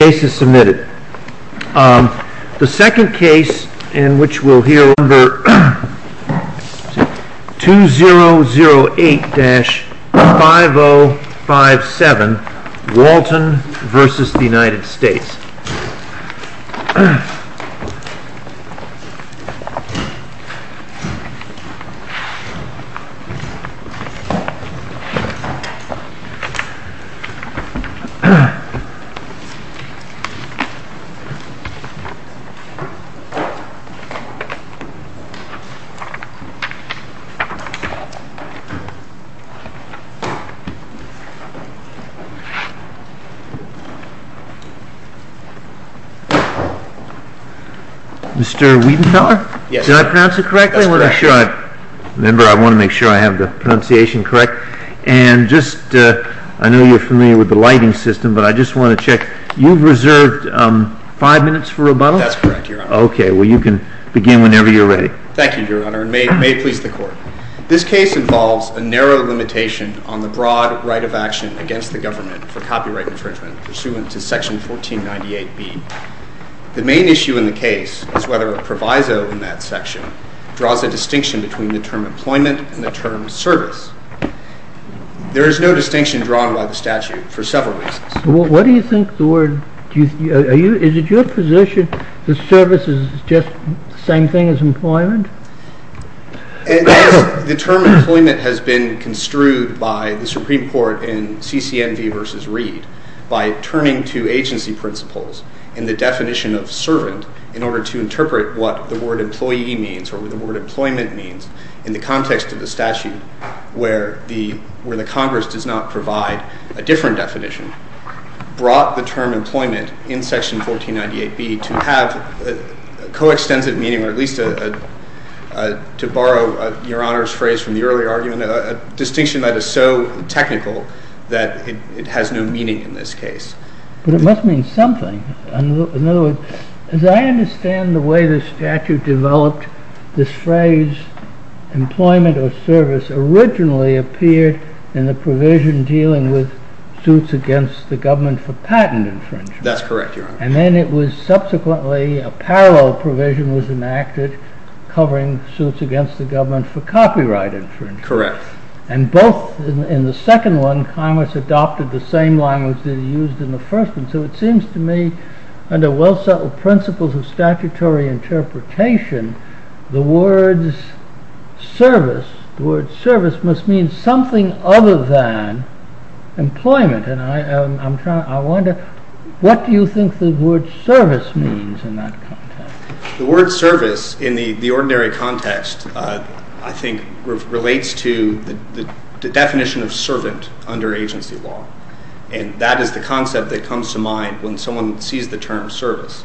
The second case in which we'll hear number 2008-5057, Walton v. United States. Mr. Wiedenthaler, did I pronounce it correctly? Yes, that's correct. I want to make sure I have the pronunciation correct. And just, I know you're familiar with the lighting system, but I just want to check, you've reserved five minutes for rebuttal? That's correct, Your Honor. Okay, well you can begin whenever you're ready. Thank you, Your Honor, and may it please the Court. This case involves a narrow limitation on the broad right of action against the government for copyright infringement pursuant to section 1498B. The main issue in the case is whether a proviso in that section draws a distinction between the term employment and the term service. There is no distinction drawn by the statute for several reasons. What do you think the word, is it your position the service is just the same thing as employment? The term employment has been construed by the Supreme Court in CCNV v. Reed by turning to agency principles and the definition of servant in order to interpret what the word employee means or what the word employment means in the context of the statute where the Congress does not provide a different definition, brought the term employment in section 1498B to have a coextensive meaning, or at least to borrow Your Honor's phrase from the earlier argument, a distinction that is so technical that it has no meaning in this case. But it must mean something. In other words, as I understand the way the statute developed, this phrase employment or service originally appeared in the provision dealing with suits against the government for patent infringement. That's correct, Your Honor. And then it was subsequently, a parallel provision was enacted covering suits against the government for copyright infringement. Correct. And both, in the second one, Congress adopted the same language that it used in the first one. So it seems to me, under well-settled principles of statutory interpretation, the word service must mean something other than employment. And I wonder, what do you think the word service means in that context? Service, I think, relates to the definition of servant under agency law. And that is the concept that comes to mind when someone sees the term service.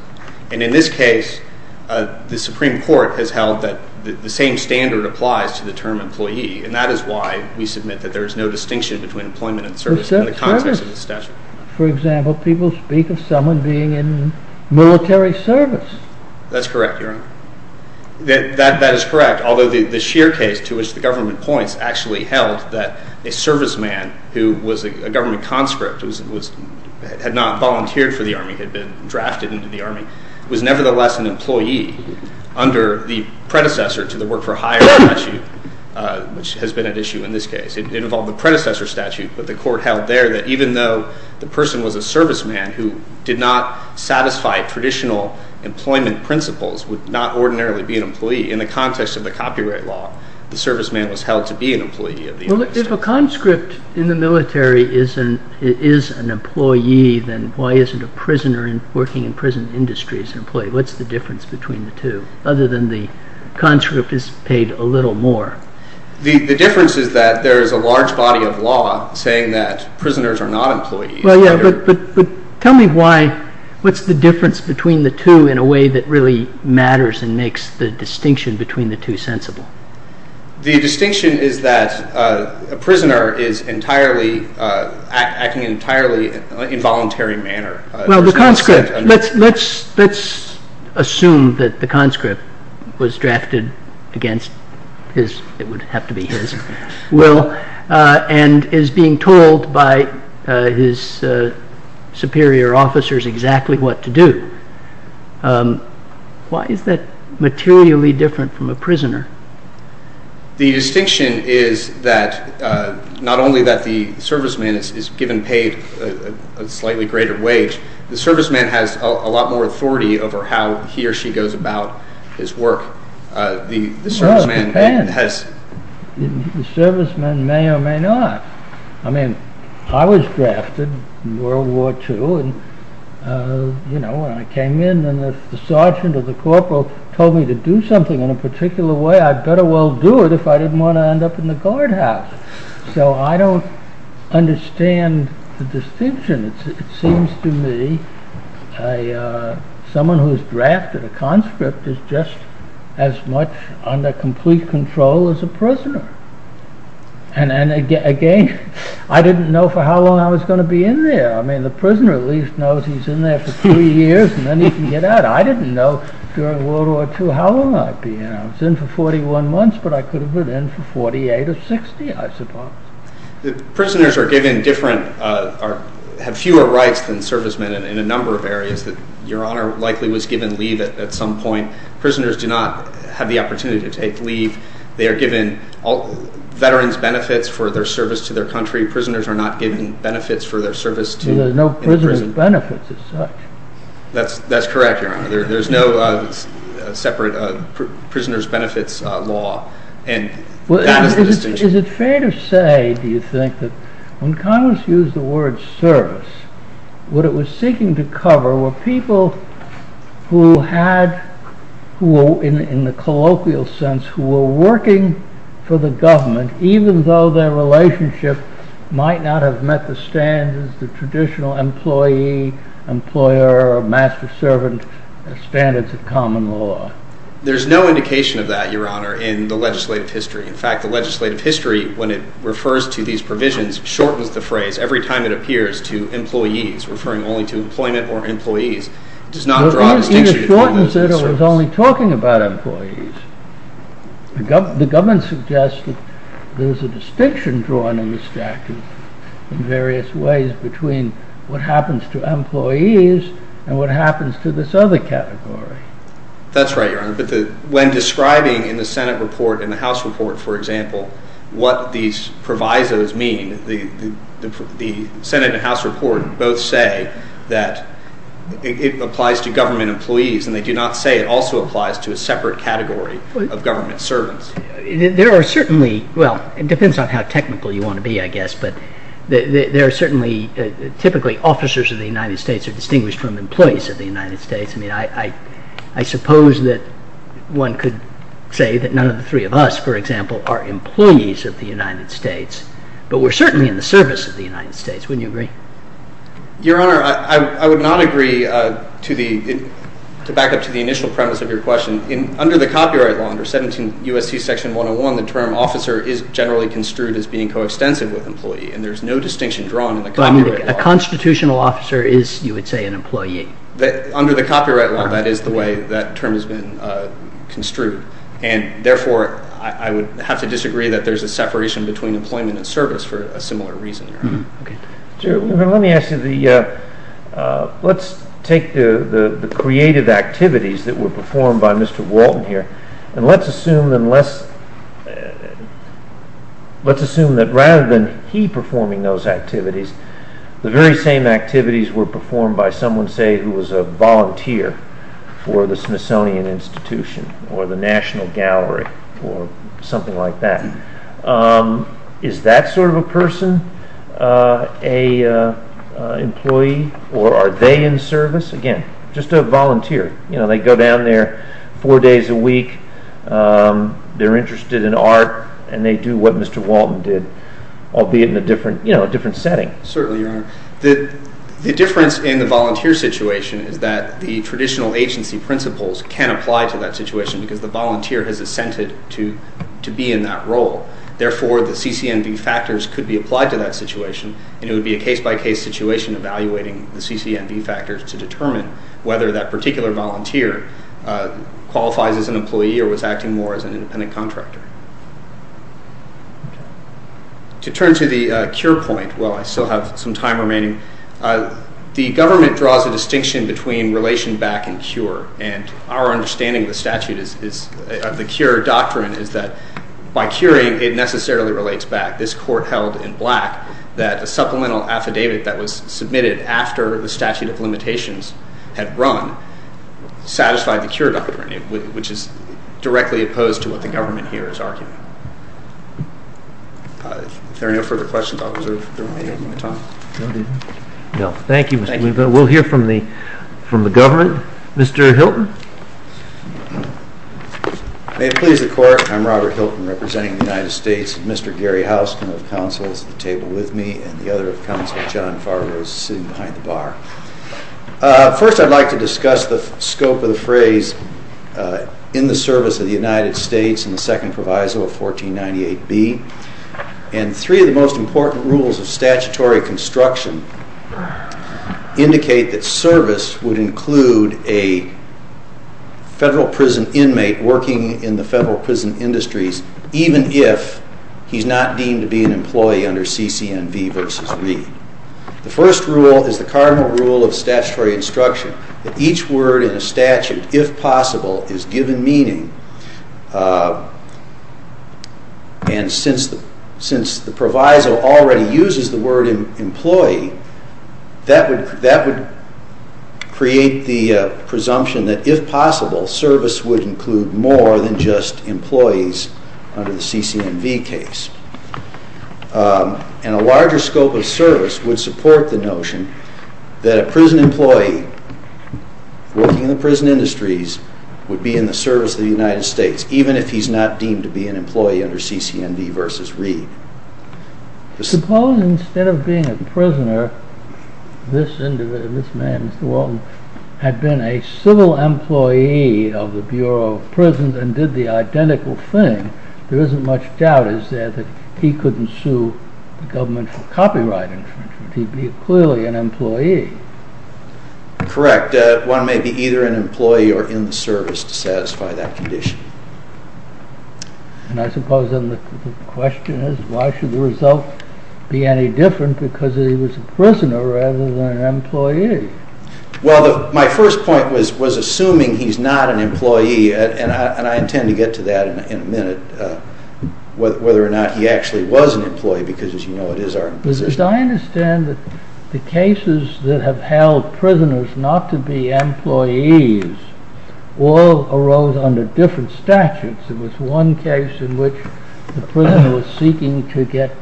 And in this case, the Supreme Court has held that the same standard applies to the term employee. And that is why we submit that there is no distinction between employment and service in the context of the statute. For example, people speak of someone being in military service. That's correct, Your Honor. That is correct, although the sheer case to which the government points actually held that a serviceman who was a government conscript, had not volunteered for the Army, had been drafted into the Army, was nevertheless an employee under the predecessor to the work for hire statute, which has been at issue in this case. It involved the predecessor statute, but the court held there that even though the person was a serviceman who did not satisfy traditional employment principles, would not ordinarily be an employee. In the context of the copyright law, the serviceman was held to be an employee. Well, if a conscript in the military is an employee, then why isn't a prisoner working in the prison industry an employee? What's the difference between the two, other than the conscript is paid a little more? The difference is that there is a large body of law saying that prisoners are not employees. Tell me what's the difference between the two in a way that really matters and makes the distinction between the two sensible. The distinction is that a prisoner is acting in an entirely involuntary manner. Well, the conscript, let's assume that the conscript was drafted against his, it would have to be his will, and is being told by his superior officers exactly what to do. Why is that materially different from a prisoner? The distinction is that not only that the serviceman is given paid a slightly greater wage, the serviceman has a lot more authority over how he or she goes about his work. Well, it depends. The serviceman may or may not. I mean, I was drafted in World War II. When I came in and the sergeant or the corporal told me to do something in a particular way, I'd better well do it if I didn't want to end up in the guardhouse. So, I don't understand the distinction. It seems to me someone who's drafted a conscript is just as much under complete control as a prisoner. And again, I didn't know for how long I was going to be in there. I mean, the prisoner at least knows he's in there for three years and then he can get out. I didn't know during World War II how long I'd be in there. I was in for 41 months, but I could have been in for 48 or 60, I suppose. Prisoners are given different, have fewer rights than servicemen in a number of areas. Your Honor likely was given leave at some point. Prisoners do not have the opportunity to take leave. They are given veterans' benefits for their service to their country. Prisoners are not given benefits for their service to the prison. There are no prisoners' benefits as such. That's correct, Your Honor. There's no separate prisoners' benefits law and that is the distinction. Is it fair to say, do you think, that when Congress used the word service, what it was seeking to cover were people who had, in the colloquial sense, who were working for the government, even though their relationship might not have met the standards, the traditional employee, employer, or master-servant standards of common law? There's no indication of that, Your Honor, in the legislative history. In fact, the legislative history, when it refers to these provisions, shortens the phrase every time it appears to employees, referring only to employment or employees. It just shortens it. It was only talking about employees. The government suggests that there's a distinction drawn in the statute in various ways between what happens to employees and what happens to this other category. That's right, Your Honor. When describing in the Senate report and the House report, for example, what these provisos mean, the Senate and House report both say that it applies to government employees, and they do not say it also applies to a separate category of government servants. There are certainly, well, it depends on how technical you want to be, I guess, but there are certainly, typically, officers of the United States are distinguished from employees of the United States. I mean, I suppose that one could say that none of the three of us, for example, are employees of the United States, but we're certainly in the service of the United States. Wouldn't you agree? Your Honor, I would not agree to back up to the initial premise of your question. Under the Copyright Law, under 17 U.S.C. Section 101, the term officer is generally construed as being coextensive with employee, and there's no distinction drawn in the Copyright Law. But a constitutional officer is, you would say, an employee. Under the Copyright Law, that is the way that term has been construed, and therefore, I would have to disagree that there's a separation between employment and service for a similar reason, Your Honor. Let me ask you, let's take the creative activities that were performed by Mr. Walton here, and let's assume that rather than he performing those activities, the very same activities were performed by someone, say, who was a volunteer for the Smithsonian Institution or the National Gallery or something like that. Is that sort of a person, an employee, or are they in service? Again, just a volunteer. They go down there four days a week, they're interested in art, and they do what Mr. Walton did, albeit in a different setting. Certainly, Your Honor. The difference in the volunteer situation is that the traditional agency principles can apply to that situation because the volunteer has assented to be in that role. Therefore, the CCNV factors could be applied to that situation, and it would be a case-by-case situation evaluating the CCNV factors to determine whether that particular volunteer qualifies as an employee or was acting more as an independent contractor. To turn to the CURE point, while I still have some time remaining, the government draws a distinction between relation back and CURE, and our understanding of the statute, of the CURE doctrine, is that by CURING, it necessarily relates back. This court held in black that a supplemental affidavit that was submitted after the statute of limitations had run satisfied the CURE doctrine, which is directly opposed to what the government here is arguing. If there are no further questions, I'll reserve the remainder of my time. Thank you. We'll hear from the government. Mr. Hilton? May it please the Court, I'm Robert Hilton, representing the United States. Mr. Gary Houskin of counsel is at the table with me, and the other of counsel, John Fargo, is sitting behind the bar. First, I'd like to discuss the scope of the phrase in the service of the United States in the Second Proviso of 1498B. Three of the most important rules of statutory construction indicate that service would include a federal prison inmate working in the federal prison industries, even if he's not deemed to be an employee under CCNV v. Lee. The first rule is the cardinal rule of statutory instruction, that each word in a statute, if possible, is given meaning, and since the proviso already uses the word employee, that would create the presumption that, if possible, service would include more than just employees under the CCNV case. And a larger scope of service would support the notion that a prison employee working in the prison industries would be in the service of the United States, even if he's not deemed to be an employee under CCNV v. Lee. Suppose instead of being a prisoner, this man, Mr. Walton, had been a civil employee of the Bureau of Prisons and did the identical thing. There isn't much doubt, is there, that he couldn't sue the government for copyright infringement. He'd be clearly an employee. Correct. One may be either an employee or in the service to satisfy that condition. And I suppose then the question is, why should the result be any different because he was a prisoner rather than an employee? Well, my first point was assuming he's not an employee, and I intend to get to that in a minute, whether or not he actually was an employee, because, as you know, it is our position. I understand that the cases that have held prisoners not to be employees all arose under different statutes. There was one case in which the prisoner was seeking to get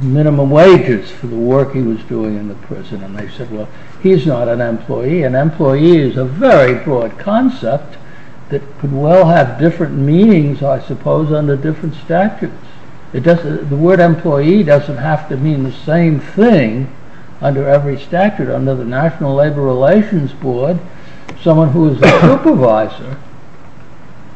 minimum wages for the work he was doing in the prison, and they said, well, he's not an employee. An employee is a very broad concept that could well have different meanings, I suppose, under different statutes. The word employee doesn't have to mean the same thing under every statute. Under the National Labor Relations Board, someone who is a supervisor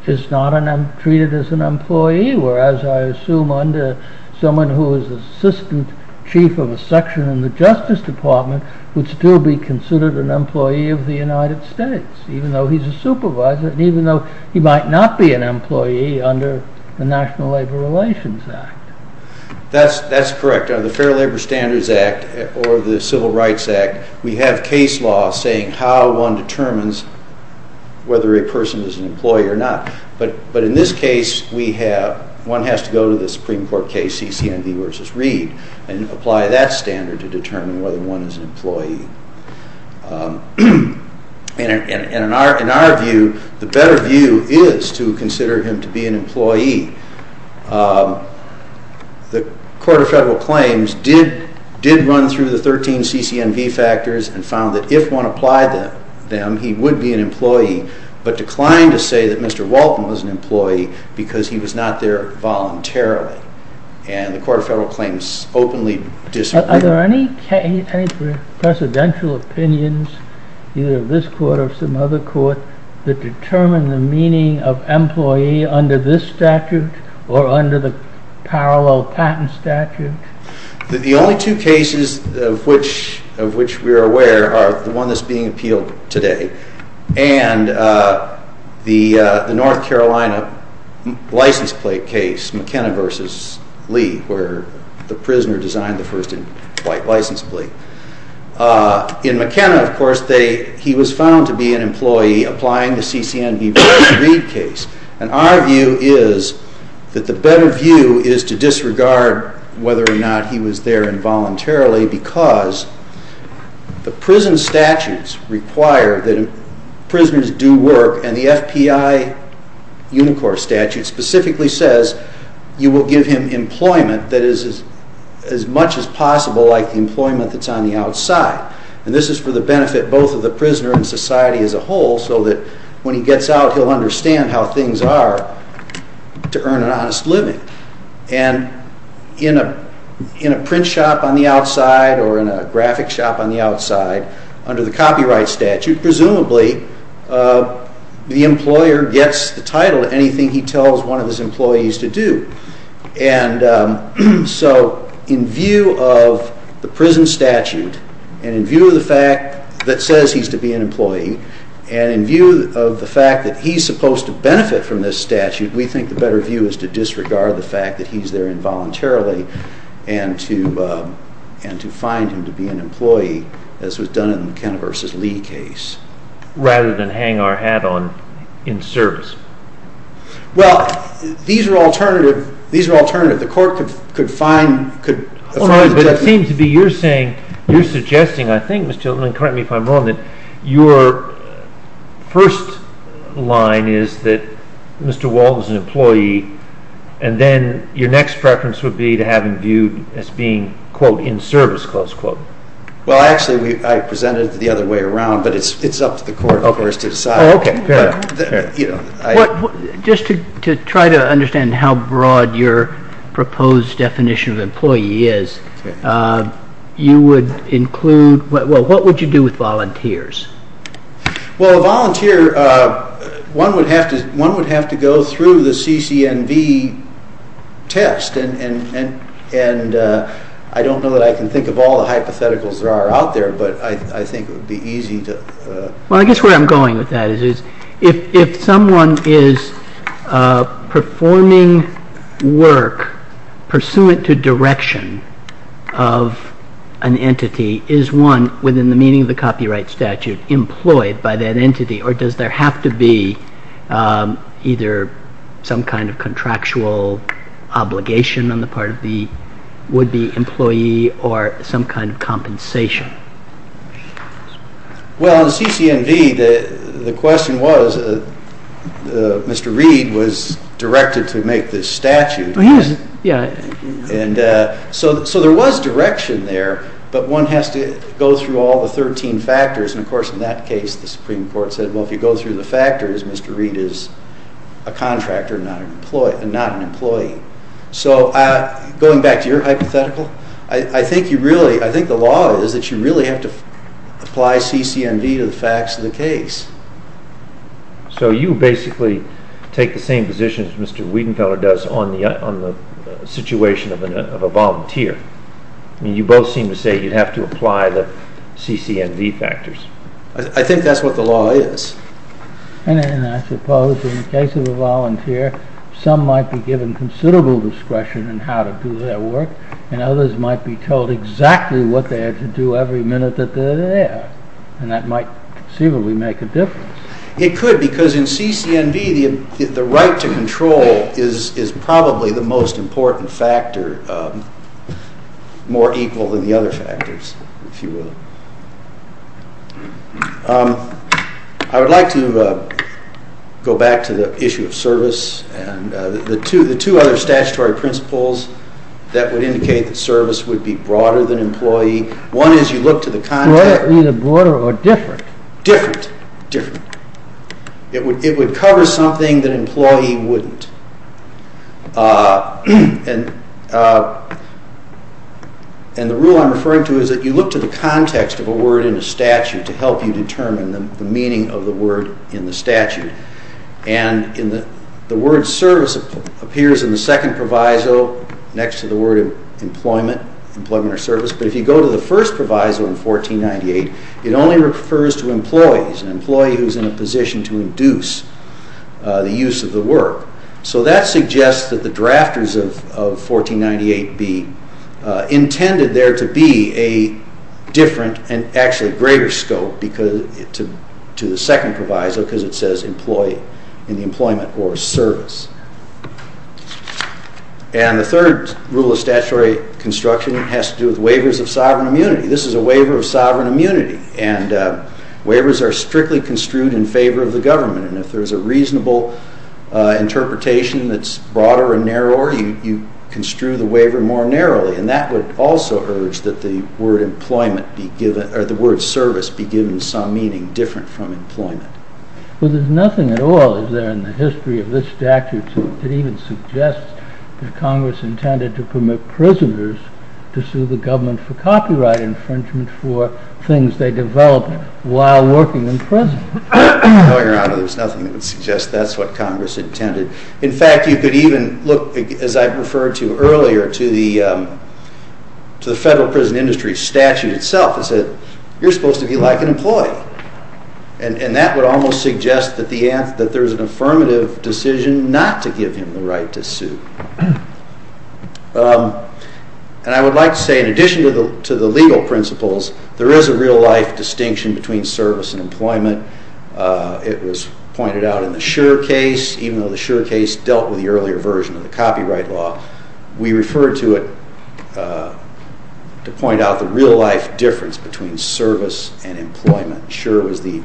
is not treated as an employee, whereas I assume under someone who is assistant chief of a section in the Justice Department would still be considered an employee of the United States, even though he's a supervisor, even though he might not be an employee under the National Labor Relations Act. That's correct. Under the Fair Labor Standards Act or the Civil Rights Act, we have case law saying how one determines whether a person is an employee or not. But in this case, one has to go to the Supreme Court case, CCMD v. Reed, and in our view, the better view is to consider him to be an employee. The Court of Federal Claims did run through the 13 CCMD factors and found that if one applied them, he would be an employee, but declined to say that Mr. Walton was an employee because he was not there voluntarily, and the Court of Federal Claims openly disagreed. Are there any presidential opinions, either of this court or some other court, that determine the meaning of employee under this statute or under the parallel patent statute? The only two cases of which we are aware are the one that's being appealed today and the North Carolina license plate case, McKenna v. Lee, where the prisoner designed the first white license plate. In McKenna, of course, he was found to be an employee applying the CCMD v. Reed case, and our view is that the better view is to disregard whether or not he was there involuntarily because the prison statutes require that prisoners do work, and the FPI Unicor statute specifically says you will give him employment that is as much as possible like the employment that's on the outside. And this is for the benefit both of the prisoner and society as a whole so that when he gets out, he'll understand how things are to earn an honest living. And in a print shop on the outside or in a graphic shop on the outside, under the copyright statute, presumably the employer gets the title to anything he tells one of his employees to do. And so in view of the prison statute and in view of the fact that says he's to be an employee and in view of the fact that he's supposed to benefit from this statute, we think the better view is to disregard the fact that he's there involuntarily and to find him to be an employee as was done in the Kenner v. Lee case. Rather than hang our hat on in service. Well, these are alternative. The court could find... It seems to be you're saying, you're suggesting, I think Mr. Hilton, correct me if I'm wrong, that your first line is that Mr. Wald was an employee and then your next preference would be to have him viewed as being, quote, in service, close quote. Well, actually, I presented it the other way around, but it's up to the court, of course, to decide. Just to try to understand how broad your proposed definition of employee is, you would include, well, what would you do with volunteers? Well, a volunteer, one would have to go through the CCNV test and I don't know that I can think of all the hypotheticals that are out there, but I think it would be easy to... Well, I guess where I'm going with that is if someone is performing work pursuant to direction of an entity, is one, within the meaning of the copyright statute, employed by that entity or does there have to be either some kind of contractual obligation on the part of the would-be employee or some kind of compensation? Well, in the CCNV, the question was, Mr. Reed was directed to make this statute. So there was direction there, but one has to go through all the 13 factors and, of course, in that case, the Supreme Court said, well, if you go through the factors, Mr. Reed is a contractor and not an employee. So going back to your hypothetical, I think the law is that you really have to apply CCNV to the facts of the case. So you basically take the same position as Mr. Wiedenfeller does on the situation of a volunteer. You both seem to say you have to apply the CCNV factors. I think that's what the law is. And I suppose in the case of a volunteer, some might be given considerable discretion in how to do their work and others might be told exactly what they have to do every minute that they're there, and that might conceivably make a difference. It could, because in CCNV, the right to control is probably the most important factor, more equal than the other factors, if you will. I would like to go back to the issue of service and the two other statutory principles that would indicate that service would be broader than employee. One is you look to the context. Either broader or different. Different. It would cover something that employee wouldn't. And the rule I'm referring to is that you look to the context of a word in a statute to help you determine the meaning of the word in the statute. And the word service appears in the second proviso next to the word employment, employment or service. But if you go to the first proviso in 1498, it only refers to employees, an employee who's in a position to induce the use of the work. So that suggests that the drafters of 1498 be intended there to be a different and actually greater scope to the second proviso, because it says employee in the employment or service. And the third rule of statutory construction has to do with waivers of sovereign immunity. This is a waiver of sovereign immunity. And waivers are strictly construed in favor of the government. And if there's a reasonable interpretation that's broader and narrower, you construe the waiver more narrowly. And that would also urge that the word employment be given, or the word service be given some meaning different from employment. Well, there's nothing at all is there in the history of this statute that even suggests that Congress intended to permit prisoners to sue the government for copyright infringement for things they developed while working in prison. No, Your Honor, there's nothing that would suggest that's what Congress intended. In fact, you could even look, as I referred to earlier, to the federal prison industry statute itself. It said, you're supposed to be like an employee. And that would almost suggest that there's an affirmative decision not to give him the right to sue. And I would like to say, in addition to the legal principles, there is a real-life distinction between service and employment. It was pointed out in the Schur case, even though the Schur case dealt with the earlier version of the copyright law, we referred to it to point out the real-life difference between service and employment. Schur was the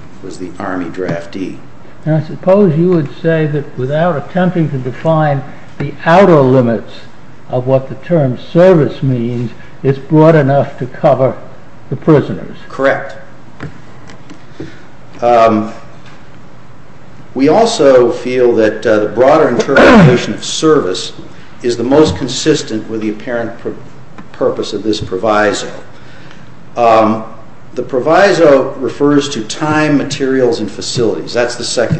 Army draftee. And I suppose you would say that without attempting to define the outer limits of what the term service means, it's broad enough to cover the prisoners. Correct. We also feel that the broader interpretation of service is the most consistent with the apparent purpose of this proviso. The proviso refers to time, materials, and facilities. That's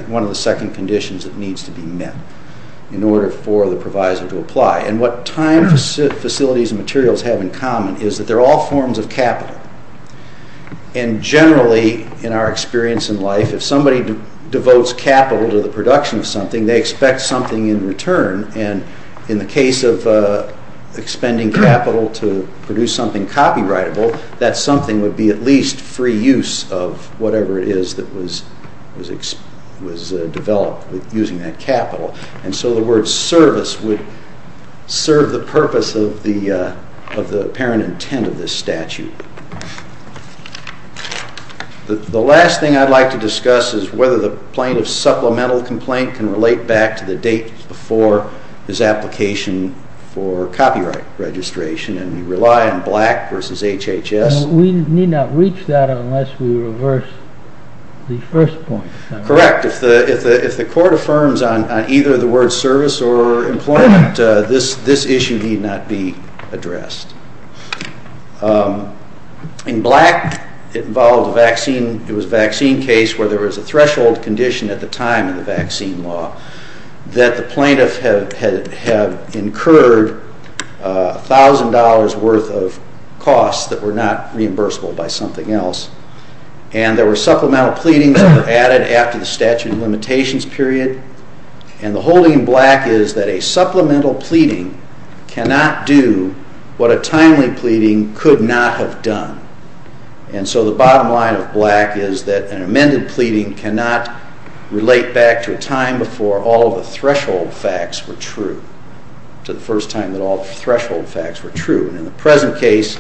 one of the second conditions that needs to be met in order for the proviso to apply. And what time, facilities, and materials have in common is that they're all forms of capital. And generally, in our experience in life, if somebody devotes capital to the production of something, they expect something in return. And in the case of expending capital to produce something copyrightable, that something would be at least free use of whatever it is that was developed using that capital. And so the word service would serve the purpose of the apparent intent of this statute. The last thing I'd like to discuss is whether the plaintiff's supplemental complaint can relate back to the date before his application for copyright registration. And we rely on Black v. HHS. We need not reach that unless we reverse the first point. Correct. If the court affirms on either the word service or employment, this issue need not be addressed. In Black, it was a vaccine case where there was a threshold condition at the time in the vaccine law that the plaintiff had incurred $1,000 worth of costs that were not reimbursable by something else. And there were supplemental pleadings that were added after the statute of limitations period. And the holding in Black is that a supplemental pleading cannot do what a timely pleading could not have done. And so the bottom line of Black is that an amended pleading cannot relate back to a time before all of the threshold facts were true, to the first time that all threshold facts were true. In the present case,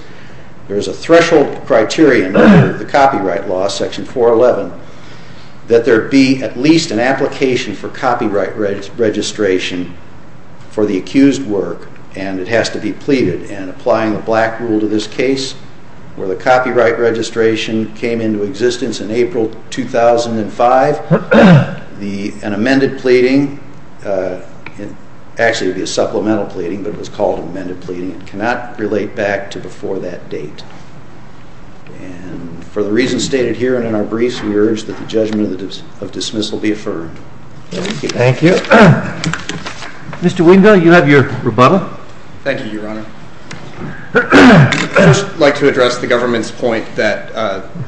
there is a threshold criterion under the copyright law, Section 411, that there be at least an application for copyright registration for the accused work, and it has to be pleaded. And applying the Black rule to this case, where the copyright registration came into existence in April 2005, an amended pleading, actually it would be a supplemental pleading, but it was called amended pleading, cannot relate back to before that date. And for the reasons stated here and in our briefs, we urge that the judgment of dismissal be affirmed. Thank you. Mr. Wendell, you have your rebuttal. Thank you, Your Honor. I'd just like to address the government's point that,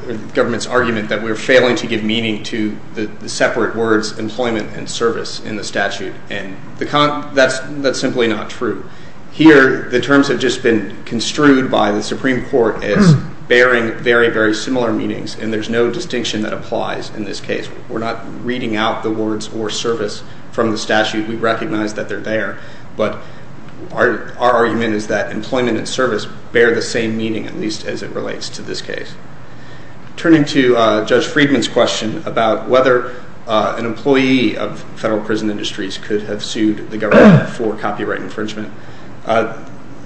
the government's argument that we're failing to give meaning to the separate words employment and service in the statute. And that's simply not true. Here, the terms have just been construed by the Supreme Court as bearing very, very similar meanings, and there's no distinction that applies in this case. We're not reading out the words or service from the statute. We recognize that they're there. But our argument is that employment and service bear the same meaning, at least as it relates to this case. Turning to Judge Friedman's question about whether an employee of federal prison industries could have sued the government for copyright infringement,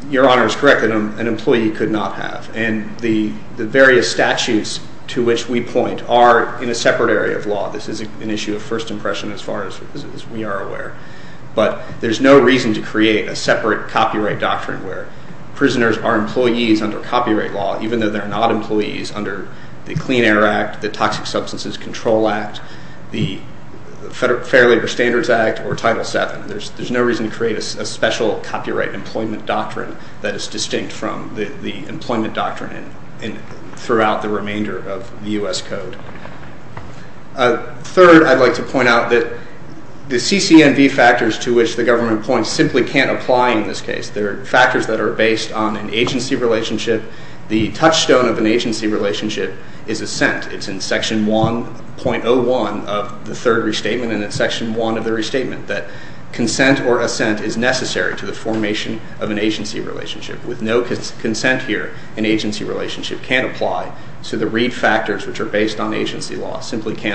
Your Honor is correct that an employee could not have. And the various statutes to which we point are in a separate area of law. This is an issue of first impression as far as we are aware. But there's no reason to create a separate copyright doctrine where prisoners are employees under copyright law, even though they're not employees under the Clean Air Act, the Toxic Substances Control Act, the Fair Labor Standards Act, or Title VII. There's no reason to create a special copyright employment doctrine that is distinct from the employment doctrine throughout the remainder of the U.S. Code. Third, I'd like to point out that the CCNV factors to which the government points simply can't apply in this case. They're factors that are based on an agency relationship. The touchstone of an agency relationship is assent. It's in Section 1.01 of the third restatement and in Section 1 of the restatement that consent or assent is necessary to the formation of an agency relationship. With no consent here, an agency relationship can't apply. So the Reed factors, which are based on agency law, Since you've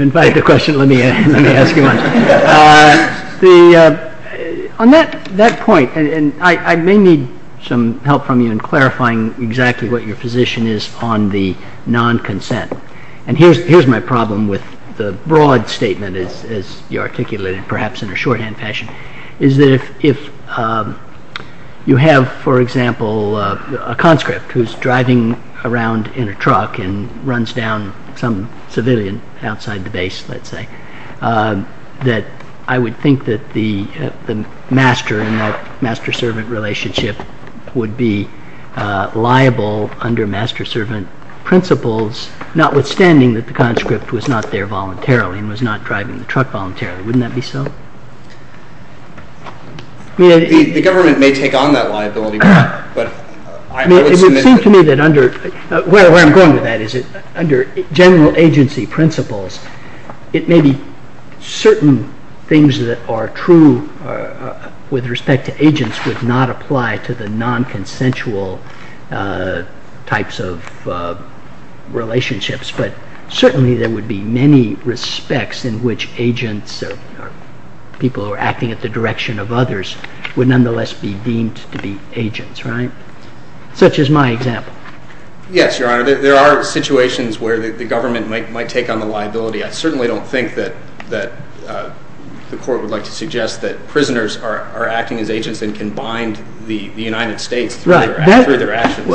invited the question, let me ask you one. On that point, and I may need some help from you in clarifying exactly what your position is on the non-consent. And here's my problem with the broad statement, as you articulated, perhaps in a shorthand fashion, is that if you have, for example, a conscript who's driving around in a truck and runs down some civilian outside the base, let's say, that I would think that the master and that master-servant relationship would be liable under master-servant principles, notwithstanding that the conscript was not there voluntarily and was not driving the truck voluntarily. Wouldn't that be so? The government may take on that liability. It would seem to me that under, where I'm going with that, is under general agency principles, it may be certain things that are true with respect to agents would not apply to the non-consensual types of relationships. But certainly there would be many respects in which agents or people who are acting at the direction of others would nonetheless be deemed to be agents, right? Such is my example. Yes, Your Honor. There are situations where the government might take on the liability. I certainly don't think that the court would like to suggest that prisoners are acting as agents and can bind the United States through their actions.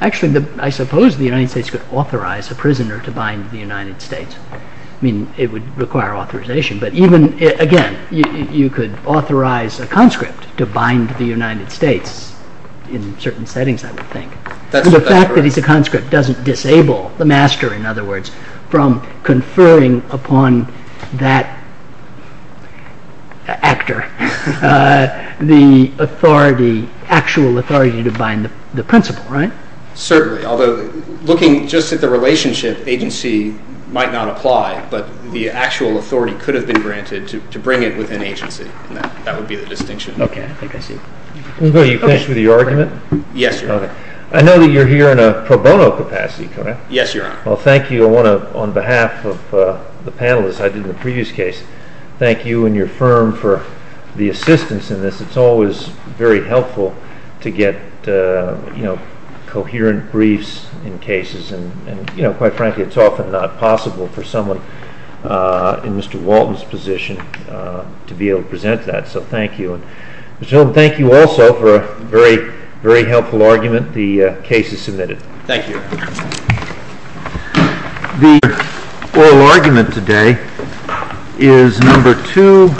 Actually, I suppose the United States could authorize a prisoner to bind the United States. I mean, it would require authorization. But even, again, you could authorize a conscript to bind the United States in certain settings, I would think. The fact that he's a conscript doesn't disable the master, in other words, from conferring upon that actor the actual authority to bind the principal, right? Certainly, although looking just at the relationship, agency might not apply, but the actual authority could have been granted to bring it within agency. That would be the distinction. Okay, I think I see. Will you finish with your argument? Yes, Your Honor. I know that you're here in a pro bono capacity, correct? Yes, Your Honor. Well, thank you. I want to, on behalf of the panelists, as I did in the previous case, thank you and your firm for the assistance in this. It's always very helpful to get, you know, coherent briefs in cases. And, you know, quite frankly, it's often not possible for someone in Mr. Walton's position to be able to present that. So thank you. And, Mr. Holman, thank you also for a very, very helpful argument. The case is submitted. Thank you. The oral argument today is number two.